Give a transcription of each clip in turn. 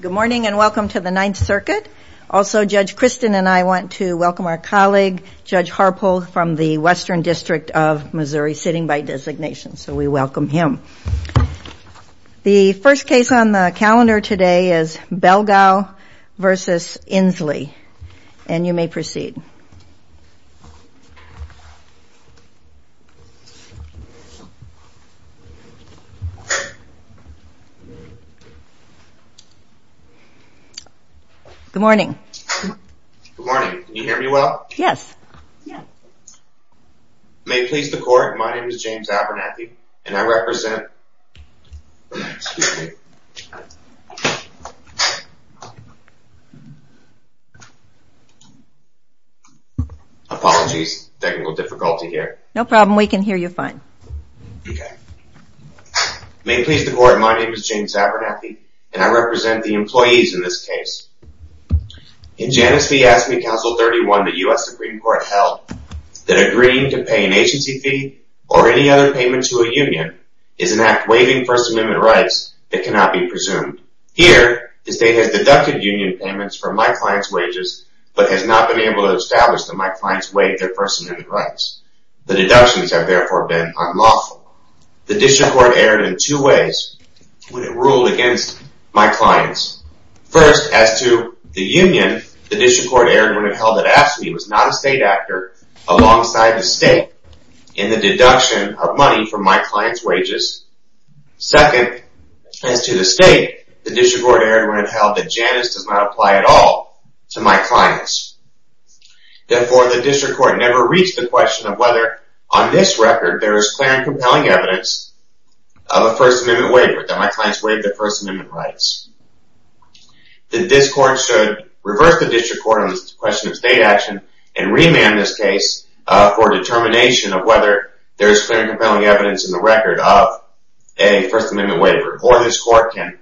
Good morning and welcome to the Ninth Circuit. Also, Judge Kristin and I want to welcome our colleague, Judge Harpole, from the Western District of Missouri, sitting by designation, so we welcome him. The first case on the calendar today is Belgau v. Inslee, and you may proceed. Good morning. Good morning. Can you hear me well? Yes. May it please the Court, my name is James Abernathy and I represent... Excuse me. Apologies, technical difficulty here. No problem, we can hear you fine. Okay. May it please the Court, my name is James Abernathy and I represent the employees in this case. In Janus v. Aspen Council 31, the U.S. Supreme Court held that agreeing to pay an agency fee or any other payment to a union is an act waiving First Amendment rights that cannot be presumed. Here, the State has deducted union payments from my client's wages, but has not been able to establish that my clients waive their First Amendment rights. The deductions have therefore been unlawful. The District Court erred in two ways when it ruled against my clients. First, as to the union, the District Court erred when it held that Aspen was not a state actor alongside the State in the deduction of money from my client's wages. Second, as to the State, the District Court erred when it held that Janus does not apply at all to my clients. Therefore, the District Court never reached the question of whether on this record there is clear and compelling evidence of a First Amendment waiver, that my clients waive their First Amendment rights. This Court should reverse the District Court on the question of State action and remand this case for determination of whether there is clear and compelling evidence in the record of a First Amendment waiver, or this Court can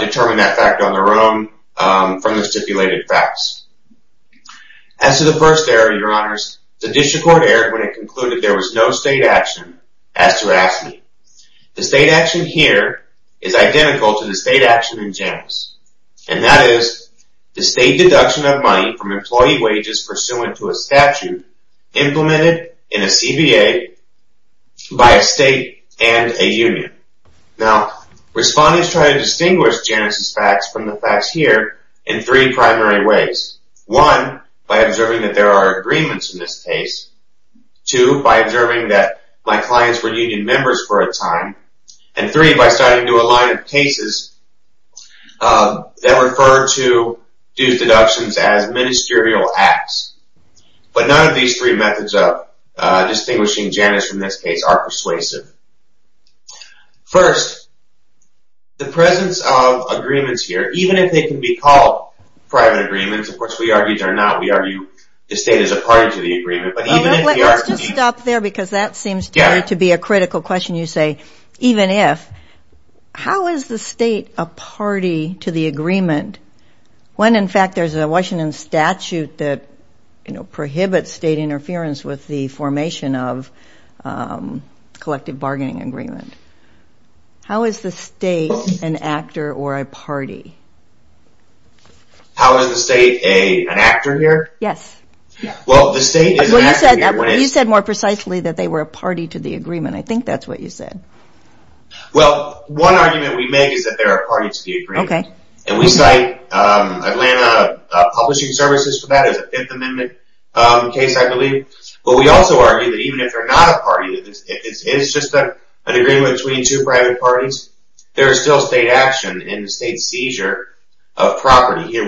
determine that fact on their own from the stipulated facts. As to the first error, Your Honors, the District Court erred when it concluded there was no State action as to Aspen. The State action here is identical to the State action in Janus, and that is the State deduction of money from employee wages pursuant to a statute implemented in Janus. Respondents try to distinguish Janus' facts from the facts here in three primary ways. One, by observing that there are agreements in this case. Two, by observing that my clients were union members for a time. And three, by starting to align cases that refer to dues deductions as ministerial acts. But none of these three methods of distinguishing Janus from this case are persuasive. First, the presence of agreements here, even if they can be called private agreements, of course we argue they are not, we argue the State is a party to the agreement, but even if they are... Let's just stop there because that seems to be a critical question you say, even if. How is the State a party to the agreement when in fact there is a Washington statute that states it is a collective bargaining agreement? How is the State an actor or a party? How is the State an actor here? Well, you said more precisely that they were a party to the agreement. I think that's what you said. Well, one argument we make is that they are a party to the agreement. And we cite Atlanta Publishing Services for that as a Fifth Amendment case, I believe. But we also argue that even if they're not a party, if it's just an agreement between two private parties, there is still State action in the State's seizure of property.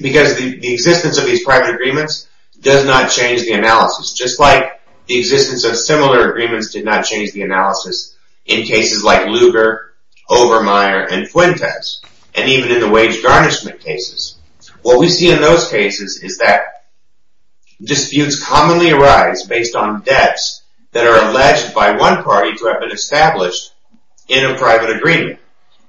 Because the existence of these private agreements does not change the analysis. Just like the existence of similar agreements did not change the analysis in cases like Lugar, Obermeyer, and Fuentes, and even in the wage garnishment cases. What we see in those cases is that disputes commonly arise based on debts that are alleged by one party to have been established in a private agreement.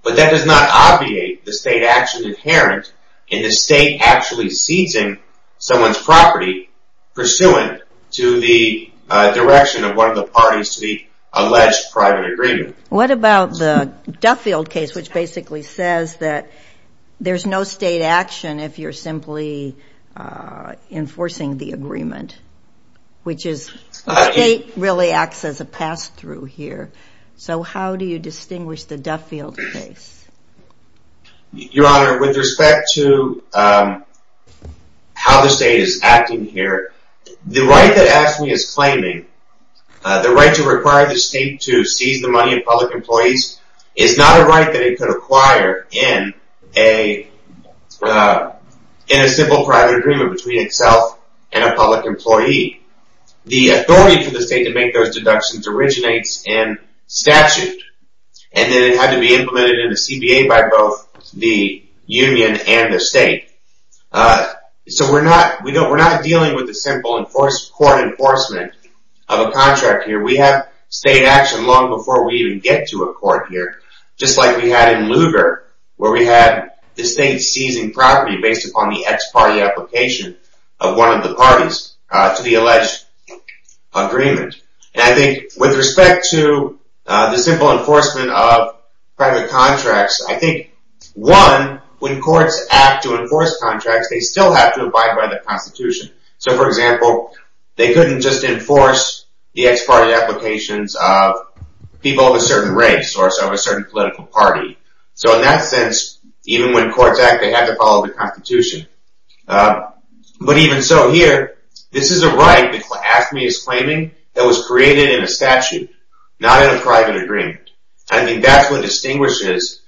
But that does not obviate the State action inherent in the State actually seizing someone's property pursuant to the direction of one of the parties to the alleged private agreement. What about the Duffield case, which basically says that there's no State action if you're simply enforcing the agreement? Which is, the State really acts as a pass-through here. So how do you distinguish the Duffield case? Your Honor, with respect to how the State is acting here, the right that AFSCME is claiming, the right to require the State to seize the money of public employees, is not a right that it could acquire in a simple private agreement between itself and a public employee. The authority for the State to make those deductions originates in statute, and then it had to be implemented in the CBA by both the union and the State. So we're not dealing with the simple court enforcement of a contract here. We have State action long before we even get to a court here, just like we had in Lugar, where we had the State seizing property based upon the ex-party application of one of the parties to the alleged agreement. And I think with respect to the simple enforcement of private contracts, I think, one, when courts act to enforce contracts, they still have to abide by the Constitution. So for example, they couldn't just enforce the ex-party applications of people of a certain race or a certain political party. So in that sense, even when courts act, they have to follow the Constitution. But even so here, this is a right that AFSCME is claiming that was created in a statute, not in a private agreement. I think that's what distinguishes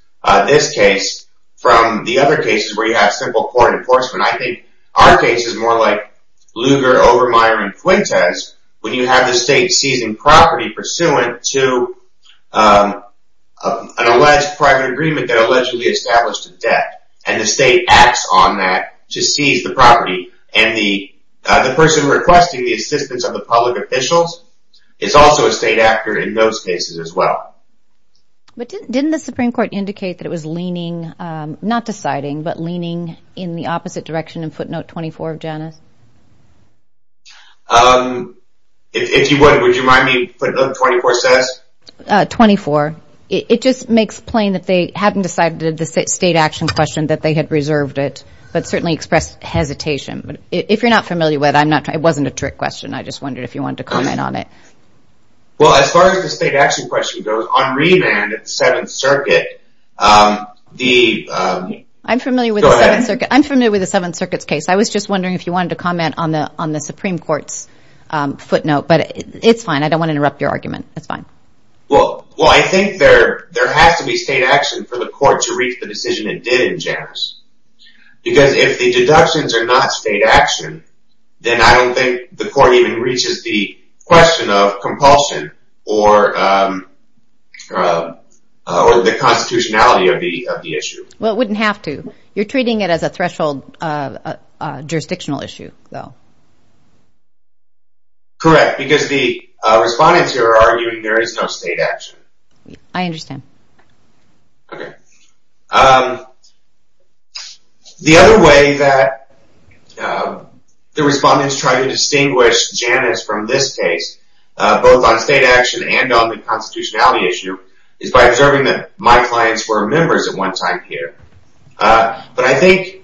this case from the other cases where you have simple court enforcement. I think our case is more like Lugar, Overmyer, and Fuentes, when you have the State seizing property pursuant to an alleged private agreement that allegedly established a debt. And the State acts on that to seize the property. And the person requesting the assistance of the public officials is also a State actor in those cases as well. But didn't the Supreme Court indicate that it was leaning, not deciding, but leaning in the opposite direction in footnote 24 of Janus? If you would, would you mind me, footnote 24 says? 24. It just makes plain that they hadn't decided the State action question, that they had reserved it, but certainly expressed hesitation. If you're not familiar with it, it wasn't a trick question. I just wondered if you wanted to comment on it. Well, as far as the State action question goes, on remand at the Seventh Circuit, I'm familiar with the Seventh Circuit. I'm familiar with the Seventh Circuit's case. I was just wondering if you wanted to comment on the Supreme Court's footnote. But it's fine. I don't want to interrupt your argument. It's fine. Well, I think there has to be State action for the court to reach the decision it did in Janus. Because if the deductions are not State action, then I don't think the court even reaches the question of compulsion or the constitutionality of the issue. Well, it wouldn't have to. You're treating it as a threshold jurisdictional issue, though. Correct. Because the respondents here are arguing there is no State action. I understand. Okay. The other way that the respondents try to distinguish Janus from this case, both on State action and on the constitutionality issue, is by observing that my clients were members at one time here. But I think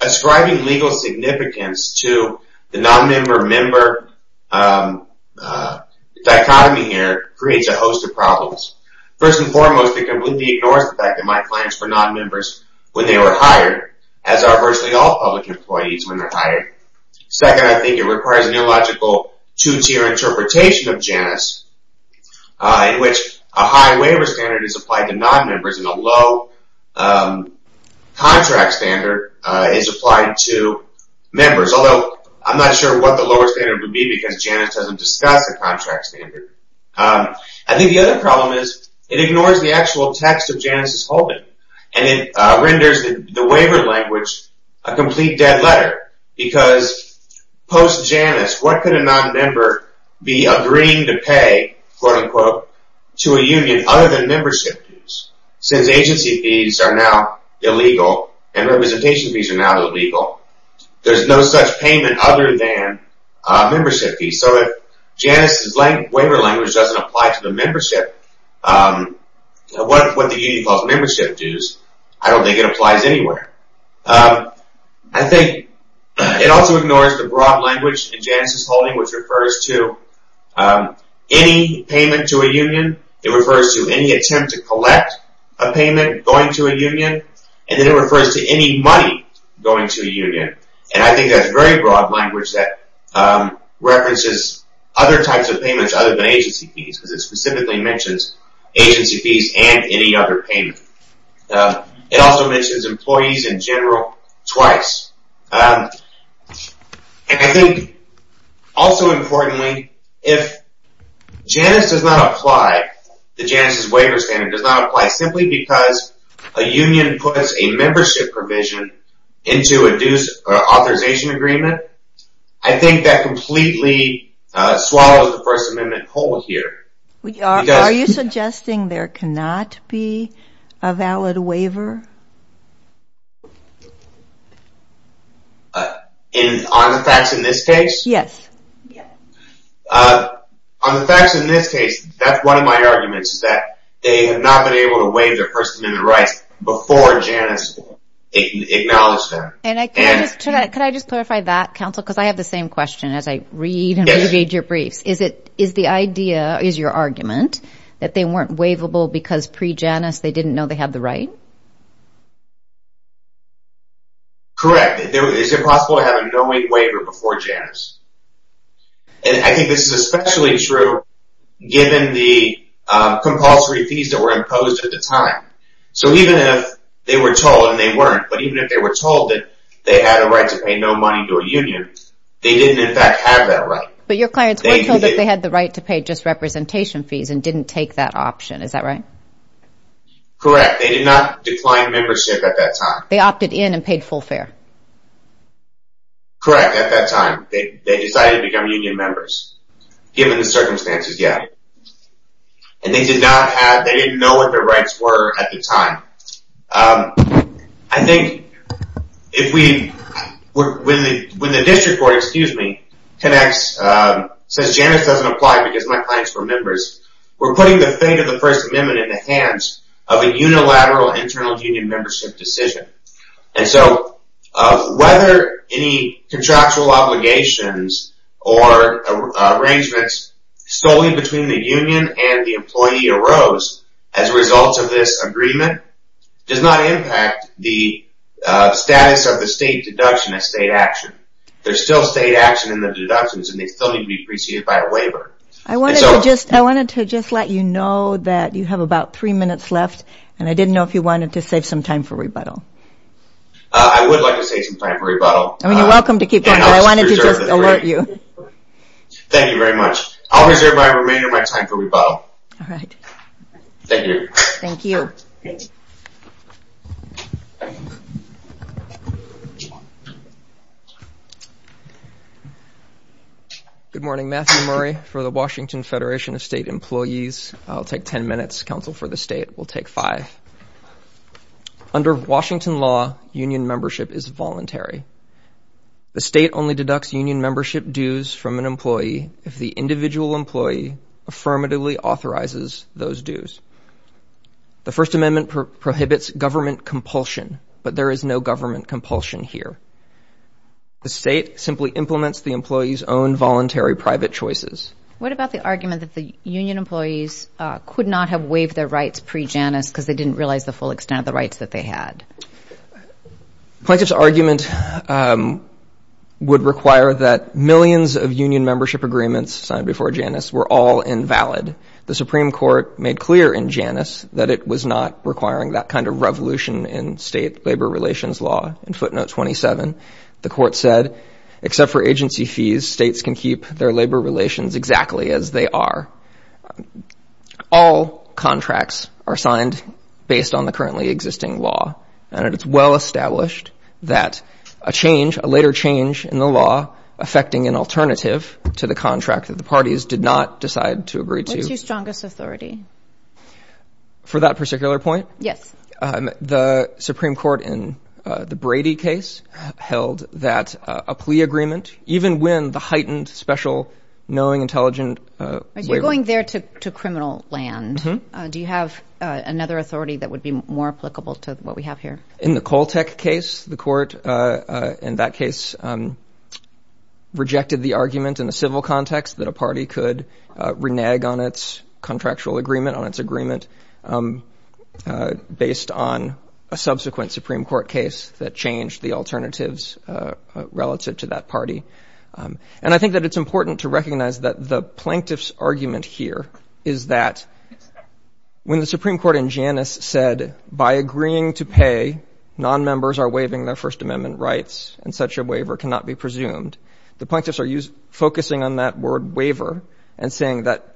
ascribing legal significance to the non-member-member dichotomy here creates a host of problems. First and foremost, it completely ignores the fact that my clients were non-members when they were hired, as are virtually all public employees when they're hired. Second, I think it requires an illogical two-tier interpretation of Janus, in which a high waiver standard is applied to non-members and a low contract standard is applied to members. Although, I'm not sure what the lower standard would be because Janus doesn't discuss the contract standard. I think the other problem is it ignores the actual text of Janus' holding. And it renders the waiver language a complete dead letter. Because post-Janus, what could a non-member be agreeing to pay to a union other than membership dues? Since agency fees are now illegal and representation fees are now illegal, there's no such payment other than membership fees. So if Janus' waiver language doesn't apply to the membership, what the union calls membership dues, I don't think it applies anywhere. I think it also ignores the broad language in Janus' holding, which refers to any payment to a union. It refers to any attempt to collect a payment going to a union. And then it refers to any money going to a union. And I think that's very broad language that references other types of payments other than agency fees. Because it specifically mentions agency fees and any other payment. It also mentions employees in general twice. And I think, also importantly, if Janus does not apply, the Janus' waiver standard does not apply simply because a union puts a membership provision into a dues authorization agreement, I think that completely swallows the First Amendment whole here. Are you suggesting there cannot be a valid waiver? On the facts in this case? Yes. On the facts in this case, that's one of my arguments, that they have not been able to waive their First Amendment rights before Janus acknowledged them. Can I just clarify that, counsel? Because I have the same question as I read and read your briefs. Is the idea, is your argument, that they weren't waivable because pre-Janus they didn't know they had the right? Correct. Is it possible to have a knowing waiver before Janus? And I think this is especially true given the compulsory fees that were imposed at the time. So even if they were told, and they weren't, but even if they were told that they had a right to pay no money to a union, they didn't in fact have that right. But your clients were told that they had the right to pay just representation fees and didn't take that option, is that right? Correct. They did not decline membership at that time. They opted in and paid full fare. Correct, at that time. They decided to become union members, given the circumstances yet. And they did not have, they didn't know what their rights were at the time. I think if we, when the district court, excuse me, connects, says Janus doesn't apply because my clients were members, we're putting the fate of the First Amendment in the hands of a unilateral internal union membership decision. And so whether any contractual obligations or arrangements solely between the union and the employee arose as a result of this agreement, does not impact the status of the state deduction as state action. There's still state action in the deductions and they still need to be preceded by a waiver. I wanted to just, I wanted to just let you know that you have about three minutes left and I didn't know if you wanted to save some time for rebuttal. I would like to save some time for rebuttal. I mean, you're welcome to keep going, but I wanted to just alert you. Thank you very much. I'll reserve my remainder of my time for rebuttal. All right. Thank you. Thank you. Thanks. Good morning. Matthew Murray for the Washington Federation of State Employees. I'll take 10 minutes. Counsel for the state will take five. Under Washington law, union membership is voluntary. The state only deducts union membership dues from an employee if the individual employee affirmatively authorizes those dues. The First Amendment prohibits government compulsion, but there is no government compulsion here. The state simply implements the employee's own voluntary private choices. What about the argument that the union employees could not have waived their rights pre-Janus because they didn't realize the full extent of the rights that they had? Plaintiff's argument would require that millions of union membership agreements signed before Janus were all invalid. The Supreme Court made clear in Janus that it was not requiring that kind of revolution in state labor relations law. In footnote 27, the court said, except for agency fees, states can keep their labor relations exactly as they are. All contracts are signed based on the currently existing law, and it's well established that a change, a later change in the law affecting an alternative to the contract that the parties did not decide to agree to. What's your strongest authority? For that particular point? Yes. The Supreme Court in the Brady case held that a plea agreement, even when the heightened, special, knowing, intelligent... You're going there to criminal land. Mm-hmm. Do you have another authority that would be more applicable to what we have here? In the Koltek case, the court in that case rejected the argument in a civil context that a party could renege on its contractual agreement, on its agreement, based on a subsequent Supreme Court case that changed the alternatives relative to that party. And I think that it's important to recognize that the plaintiff's argument here is that when the Supreme Court in Janus said, by agreeing to pay, nonmembers are waiving their First Amendment rights and such a waiver cannot be presumed, the plaintiffs are focusing on that word, waiver, and saying that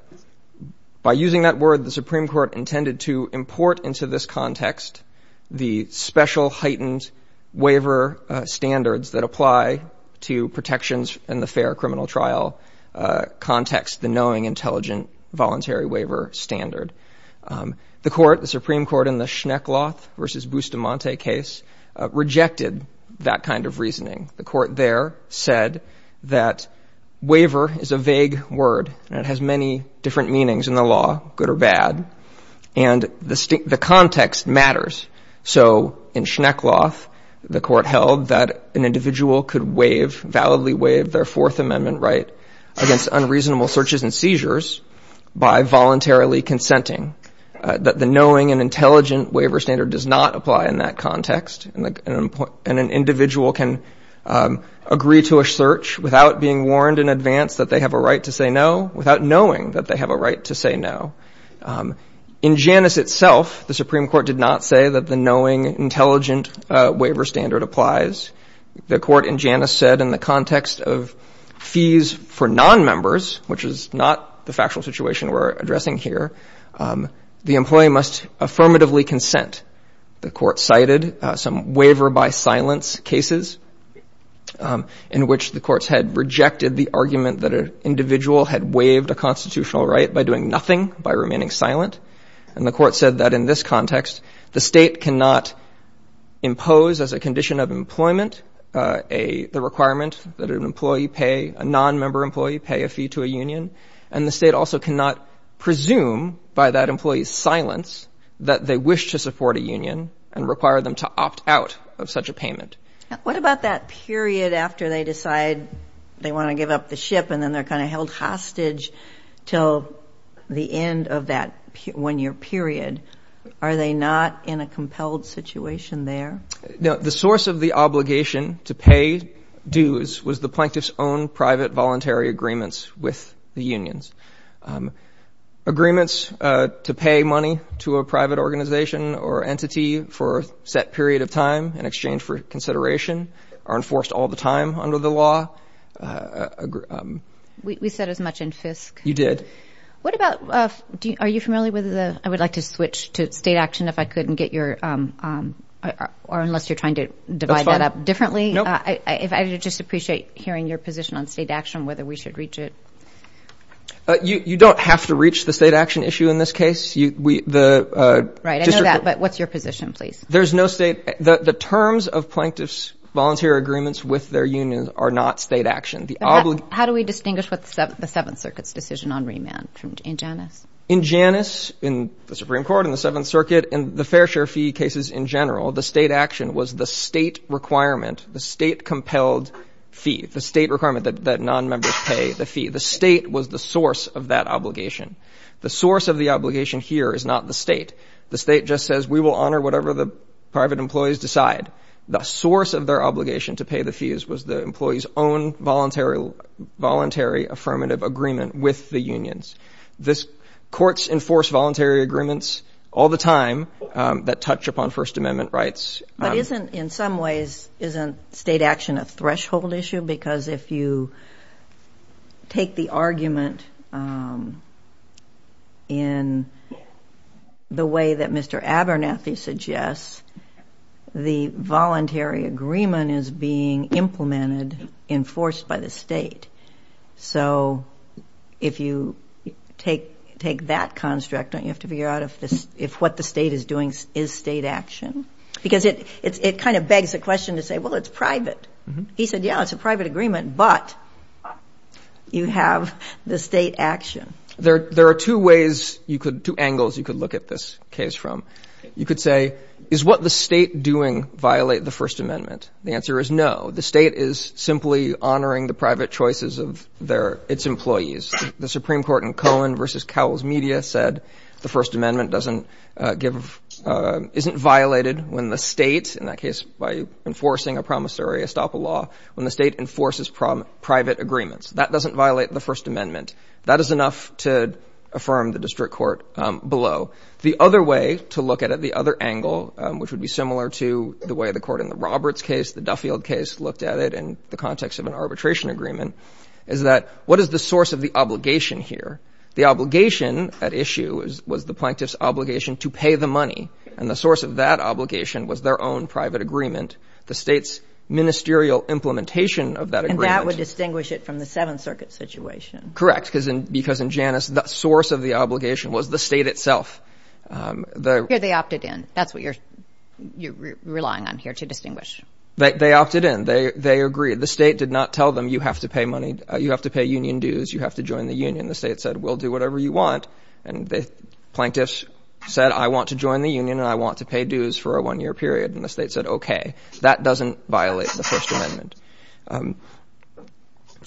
by using that word, the Supreme Court intended to import into this context the special, heightened waiver standards that apply to protections in the fair criminal trial context, the knowing, intelligent, voluntary waiver standard. The court, the Supreme Court, in the Schneckloth v. Bustamante case rejected that kind of reasoning. The court there said that waiver is a vague word and it has many different meanings in the law, good or bad, and the context matters. So in Schneckloth, the court held that an individual could waive, validly waive their Fourth Amendment right against unreasonable searches and seizures by voluntarily consenting, that the knowing and intelligent waiver standard does not apply in that context, and an individual can agree to a search without being warned in advance that they have a right to say no, without knowing that they have a right to say no. In Janus itself, the Supreme Court did not say that the knowing, intelligent waiver standard applies. The court in Janus said, in the context of fees for nonmembers, which is not the factual situation we're addressing here, the employee must affirmatively consent. The court cited some waiver-by-silence cases in which the courts had rejected the argument that an individual had waived a constitutional right by doing nothing, by remaining silent, and the court said that in this context, the state cannot impose, as a condition of employment, the requirement that an employee pay, a nonmember employee pay a fee to a union, and the state also cannot presume, by that employee's silence, that they wish to support a union and require them to opt out of such a payment. What about that period after they decide they want to give up the ship and then they're kind of held hostage till the end of that one-year period? Are they not in a compelled situation there? The source of the obligation to pay dues was the plaintiff's own private, voluntary agreements with the unions. Agreements to pay money to a private organization or entity for a set period of time in exchange for consideration are enforced all the time under the law. We said as much in FISC. You did. What about... Are you familiar with the... I would like to switch to state action if I could and get your... or unless you're trying to divide that up differently. I just appreciate hearing your position on state action and whether we should reach it. You don't have to reach the state action issue in this case. We... Right, I know that, but what's your position, please? There's no state... The terms of plaintiffs' volunteer agreements with their unions are not state action. How do we distinguish what's the Seventh Circuit's decision on remand in Janus? In Janus, in the Supreme Court, in the Seventh Circuit, in the fair share fee cases in general, the state action was the state requirement, the state-compelled fee, the state requirement that nonmembers pay the fee. The state was the source of that obligation. The source of the obligation here is not the state. The state just says, we will honor whatever the private employees decide. The source of their obligation to pay the fees was the employee's own voluntary affirmative agreement with the unions. This... Courts enforce voluntary agreements all the time that touch upon First Amendment rights. But isn't... In some ways, isn't state action a threshold issue? Because if you... take the argument, um... in... the way that Mr. Abernathy suggests, the voluntary agreement is being implemented, enforced by the state. So... if you... take... take that construct, don't you have to figure out if this... if what the state is doing is state action? Because it... it kind of begs the question to say, well, it's private. He said, yeah, it's a private agreement, but... you have the state action. There... there are two ways you could... two angles you could look at this case from. You could say, is what the state doing violate the First Amendment? The answer is no. The state is simply honoring the private choices of their... its employees. The Supreme Court in Cohen v. Cowell's Media said the First Amendment doesn't give... isn't violated when the state, in that case, by enforcing a promissory estoppel law, when the state enforces private agreements. That doesn't violate the First Amendment. That is enough to affirm the district court below. The other way to look at it, the other angle, which would be similar to the way the court in the Roberts case, the Duffield case, looked at it in the context of an arbitration agreement, is that, what is the source of the obligation here? The obligation at issue was the plaintiff's obligation to pay the money, and the source of that obligation was their own private agreement, the state's ministerial implementation of that agreement. And that would distinguish it from the Seventh Circuit situation. Correct, because in Janus, the source of the obligation was the state itself. Um, the... Here they opted in. That's what you're, you're relying on here to distinguish. They, they opted in. They, they agreed. The state did not tell them, you have to pay money, you have to pay union dues, you have to join the union. The state said, we'll do whatever you want, and the plaintiffs said, I want to join the union, and I want to pay dues for a one-year period. And the state said, okay, that doesn't violate the First Amendment. Um,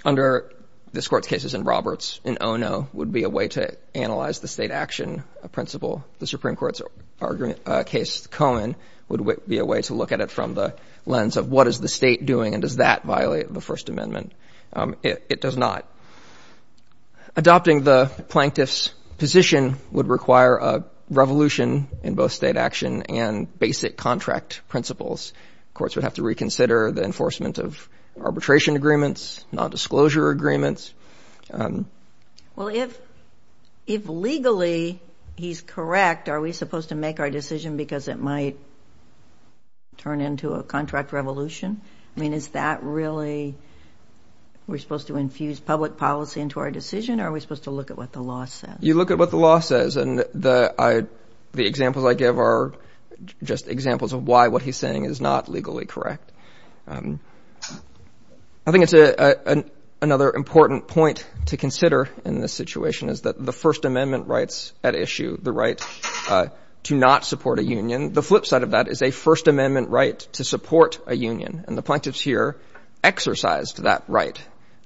under this court's cases in Roberts, an oh-no would be a way to analyze the state action principle. The Supreme Court's argument, uh, case Cohen, would be a way to look at it from the lens of, what is the state doing, and does that violate the First Amendment? Um, it, it does not. Adopting the plaintiff's position would require a revolution in both state action and basic contract principles. Courts would have to reconsider the enforcement of arbitration agreements, non-disclosure agreements. Um... Well, if, if legally he's correct, are we supposed to make our decision because it might turn into a contract revolution? I mean, is that really... we're supposed to infuse public policy into our decision, or are we supposed to look at what the law says? You look at what the law says, and the, I, the examples I give are just examples of why what he's saying is not legally correct. Um... I think it's a, a, a, another important point to consider in this situation is that the First Amendment rights at issue, the right, uh, to not support a union, the flip side of that is a First Amendment right to support a union, and the plaintiffs here exercised that right.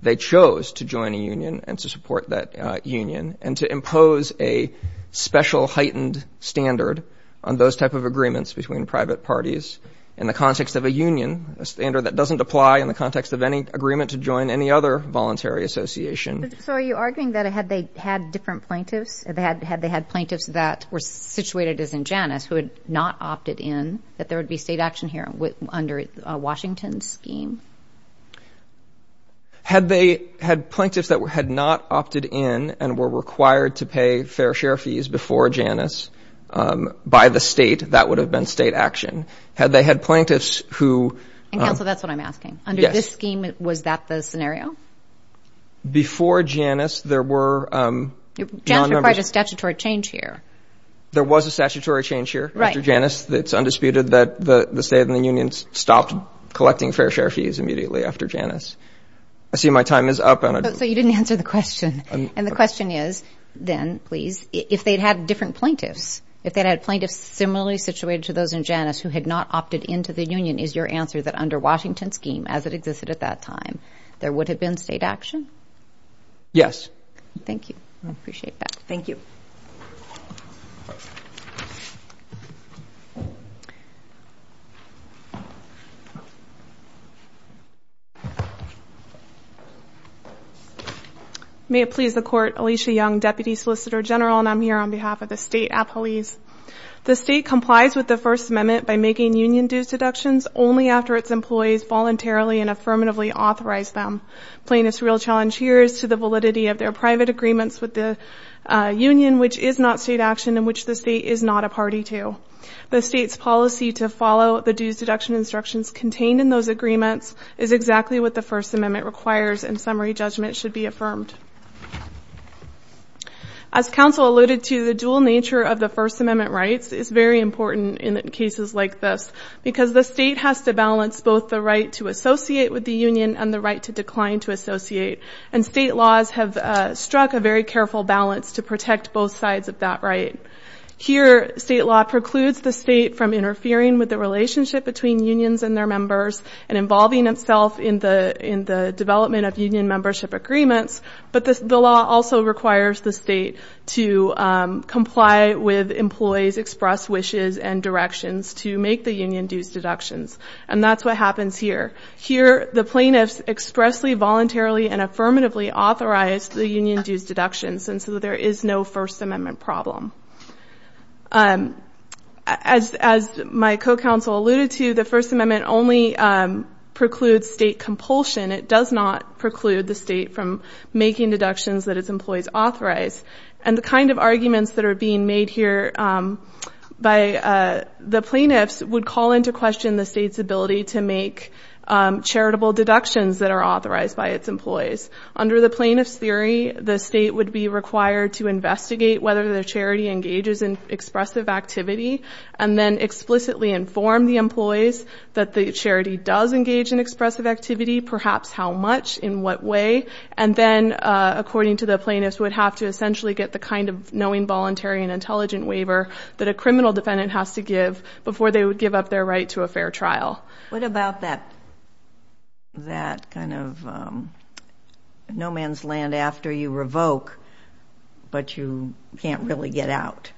They chose to join a union and to support that, uh, union, and to impose a special heightened standard on those type of agreements between private parties in the context of a union, a standard that doesn't apply in the context of any agreement to join any other voluntary association. So are you arguing that had they had different plaintiffs, had they had, had they had plaintiffs that were situated as in Janus who had not opted in, that there would be state action here under a Washington scheme? Had they had plaintiffs that had not opted in and were required to pay fair share fees before Janus, um, by the state, that would have been state action. Had they had plaintiffs who, um... And counsel, that's what I'm asking. Yes. Under this scheme, was that the scenario? Before Janus, there were, um... Janus required a statutory change here. There was a statutory change here after Janus that's undisputed that the, the state and the unions stopped collecting fair share fees immediately after Janus. I see my time is up, and I don't... So you didn't answer the question. And the question is, then, please, if they'd had different plaintiffs, if they'd had plaintiffs similarly situated to those in Janus who had not opted into the union, is your answer that under Washington scheme, as it existed at that time, there would have been state action? Yes. Thank you. I appreciate that. Thank you. May it please the Court, Alicia Young, Deputy Solicitor General, and I'm here on behalf of the state appellees. The state complies with the First Amendment by making union dues deductions only after its employees voluntarily and affirmatively authorize them. Plaintiffs' real challenge here is to the validity of their private agreements with the, uh, union, which is not state action and which the state is not a party to. The state's policy to follow the dues deduction instructions contained in those agreements is exactly what the First Amendment requires, and summary judgment should be affirmed. As counsel alluded to, the dual nature of the First Amendment rights is very important in cases like this because the state has to balance both the right to associate with the union and the right to decline to associate, and state laws have, uh, struck a very careful balance to protect both sides of that right. Here, state law precludes the state from interfering with the relationship between unions and their members and involving itself in the, in the development of union membership agreements, but the law also requires the state to, um, comply with employees' expressed wishes and directions to make the union dues deductions, and that's what happens here. Here, the plaintiffs expressly, voluntarily, and affirmatively authorized the union dues deductions and so there is no First Amendment problem. Um, as, as my co-counsel alluded to, the First Amendment only, um, precludes state compulsion. It does not preclude the state from making deductions that its employees authorize. And the kind of arguments that are being made here, um, by, uh, the plaintiffs would call into question the state's ability to make, um, charitable deductions that are authorized by its employees. Under the plaintiffs' theory, the state would be required to investigate whether the charity engages in expressive activity and then explicitly inform the employees that the charity does engage in expressive activity, perhaps how much, in what way, and then, uh, according to the plaintiffs, would have to essentially get the kind of knowing voluntary and intelligent waiver that a criminal defendant has to give before they would give up their right to a fair trial. What about that, that kind of, um, no man's land after you revoke but you can't really get out?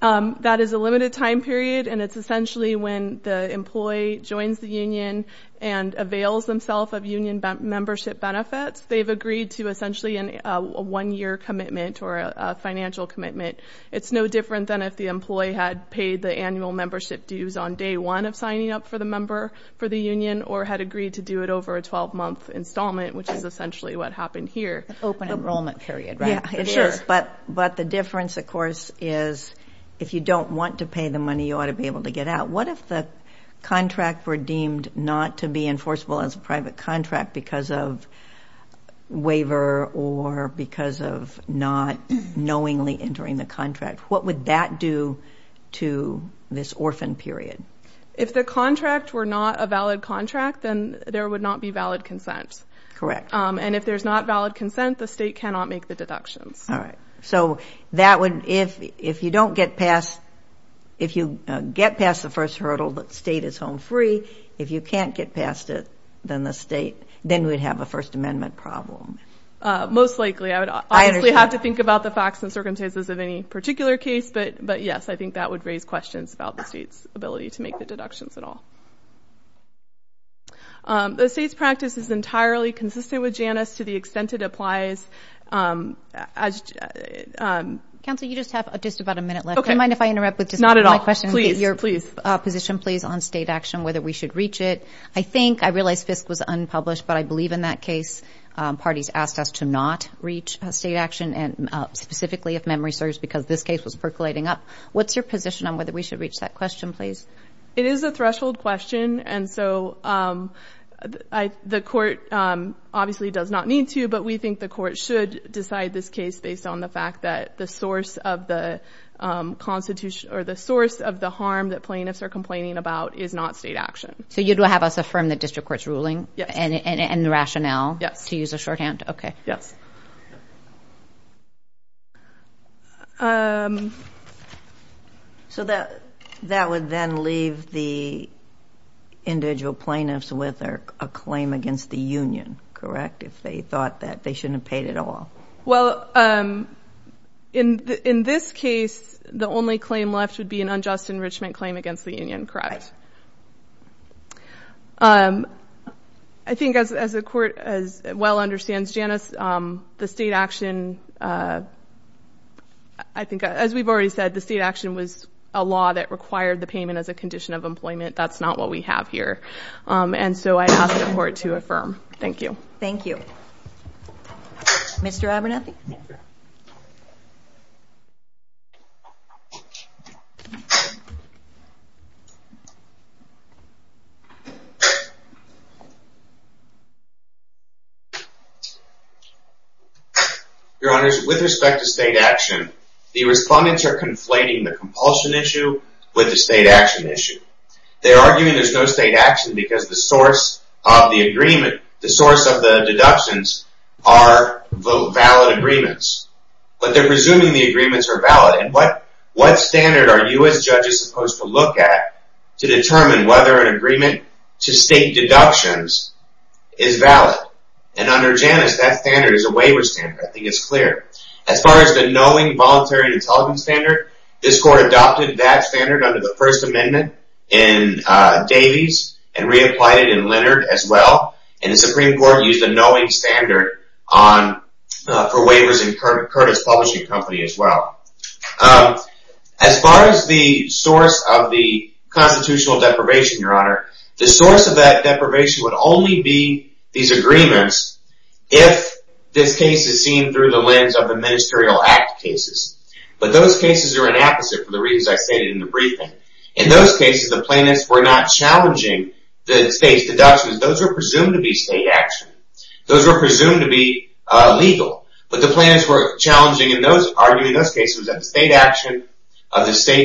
Um, that is a limited time period and it's essentially when the employee joins the union and avails themselves of union membership benefits, they've agreed to essentially a one-year commitment or a financial commitment. It's no different than if the employee had paid the annual membership dues on day one of signing up for the member for the union or had agreed to do it over a 12-month installment, which is essentially what happened here. Open enrollment period, right? Yeah, it is, but the difference, of course, is if you don't want to pay the money, you ought to be able to get out. What if the contract were deemed not to be enforceable as a private contract because of waiver or because of not knowingly entering the contract? What would that do to this orphan period? If the contract were not a valid contract, then there would not be valid consent. Correct. And if there's not valid consent, the state cannot make the deductions. Alright, so if you get past the first hurdle that the state is home free, if you can't get past it, then we'd have a First Amendment problem. Most likely. I would obviously have to think about the facts and circumstances of any particular case, but yes, I think that would raise questions about the state's ability to make the deductions at all. The state's practice is entirely consistent with JANUS to the extent it applies. Counsel, you just have just about a minute left. Not at all. I have a question. Your position please on state action, whether we should reach it. I think, I realize FISC was unpublished, but I believe in that case parties asked us to not reach state action, specifically if memory serves, because this case was percolating up. What's your position on whether we should reach that question? It is a threshold question. The court obviously does not need to, but we think the court should decide this case based on the fact that the source of the harm that plaintiffs are complaining about is not state action. You would have us affirm the district court's ruling and rationale to use a shorthand? Yes. That would then leave the individual plaintiffs with a claim against the union, correct? If they thought they shouldn't have paid at all. In this case, the only claim left would be an unjust enrichment claim against the union, correct? I think as the court well understands, Janice, the state action was a law that required the payment as a condition of employment. That's not what we have here. I ask the judge employment as a condition of employment. I ask the judge to confirm that the state action was a law that required the state action as a condition of employment. I ask the judge to confirm that the state action was a law that required employment as a condition of employment. I ask the judge to confirm law that required the state action as a condition of employment. I ask the judge to confirm that the state action of the state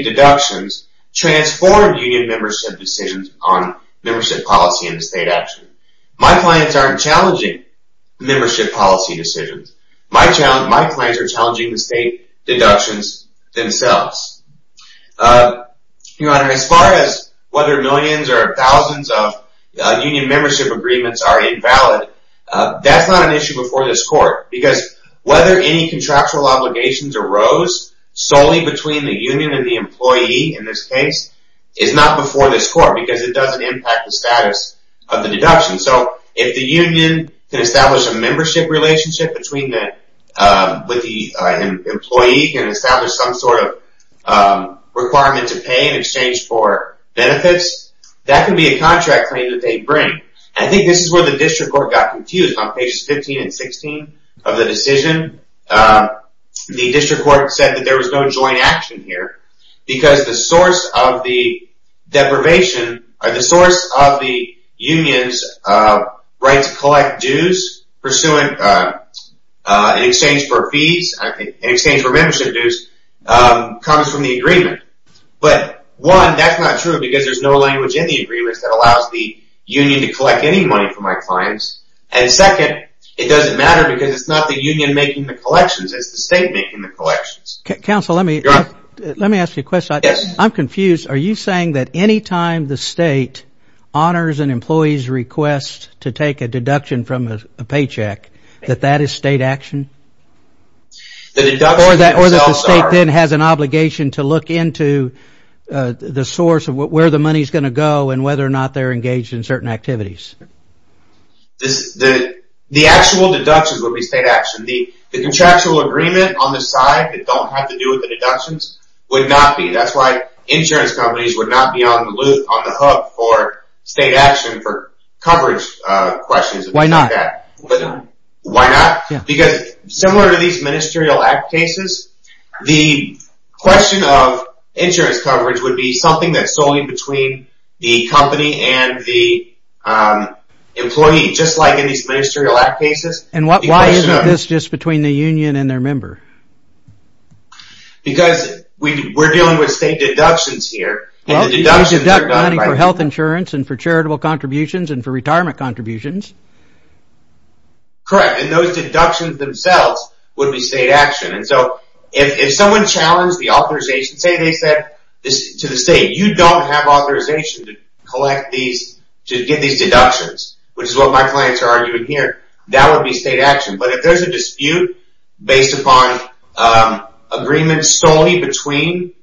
deductions transformed union membership decisions on membership policy and the state action. My clients aren't challenging membership policy decisions. My clients are challenging the state deductions themselves. Your Honor, as far as whether millions or thousands of union membership agreements are invalid, that's not an issue before this court because whether any contractual obligations arose solely between the union and the employee in this case is not before this court because it doesn't impact the status of the deduction. So if the union can establish a membership relationship between the employee can establish some sort of requirement to pay in exchange for benefits that can be a contract claim that they bring. I think this is where the district court got confused on pages 15 and 16 of the decision. The district court said that there was no joint action here because the source of the deprivation or the source of the union's right to collect dues pursuant in exchange for fees in exchange for membership dues comes from the agreement. But one, that's not true because there's no language in the agreement that allows the union to collect any money from my clients. And second, it doesn't matter because it's not the union making the collections, it's the state making the collections. Let me ask you a question. I'm confused. Are you saying that any time the state honors an employee's request to take a deduction from a company, whether or not they're engaged in certain activities? The actual deductions would be state action. The contractual agreement on the side that don't have to do with the deductions would not be. That's why insurance companies would not be on the hook for state action for coverage questions. Why not? Because similar to these ministerial act cases, the question of insurance coverage would be something that's solely between the company and the employee, just like in these ministerial act cases. And why isn't this just between the union and their member? Because we're dealing with state deductions here. They deduct money for health insurance and for charitable contributions and for retirement contributions. Correct. And those deductions themselves would be state action. And so if someone challenged the authorization, say they said to the state, you don't have authorization to get these deductions, which is what my clients are arguing here, that would be state action. But if there's a dispute based upon agreements solely between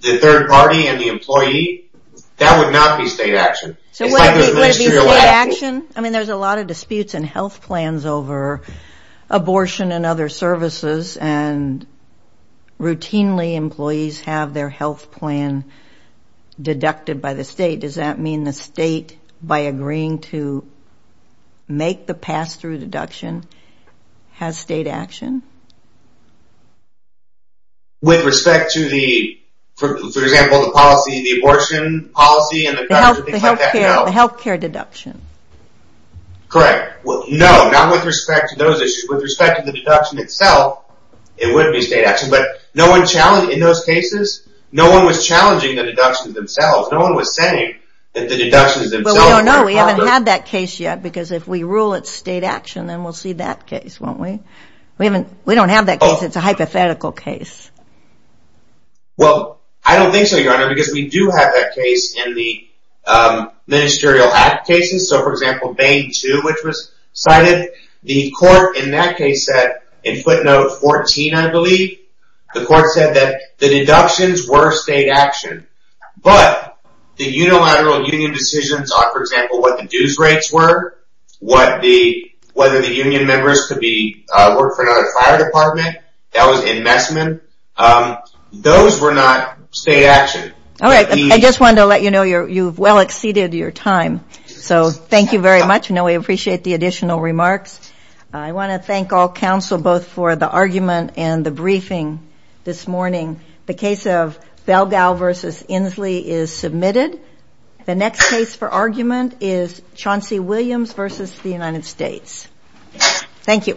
the third party and the employee, that would not be state action. Would it be state action? I mean, there's a lot of disputes and health plans over abortion and other services and routinely employees have their health plan deducted by the state. Does that mean the state, to make the pass-through deduction, has state action? With respect to the, for example, the policy, the abortion policy, and the state. Right. Well, no, not with respect to those issues. With respect to the deduction itself, it wouldn't be state action. But no one challenged, in those cases, no one was challenging the deductions themselves. No one was saying that the deductions themselves were part of it. But we did have a case which was cited. The court in that case said, in footnote 14, I believe, the court said that the deductions were state action. But the unilateral union decisions on, for example, what the dues rates were, what the, whether the union members could be, work for another fire department, that was investment, those were not state action. Alright, I just wanted to let you know you've well exceeded your time. So, thank you very much. We appreciate the additional remarks. I want to thank all counsel both for the argument and the briefing this morning. The case of Belgau versus Inslee is Thank you.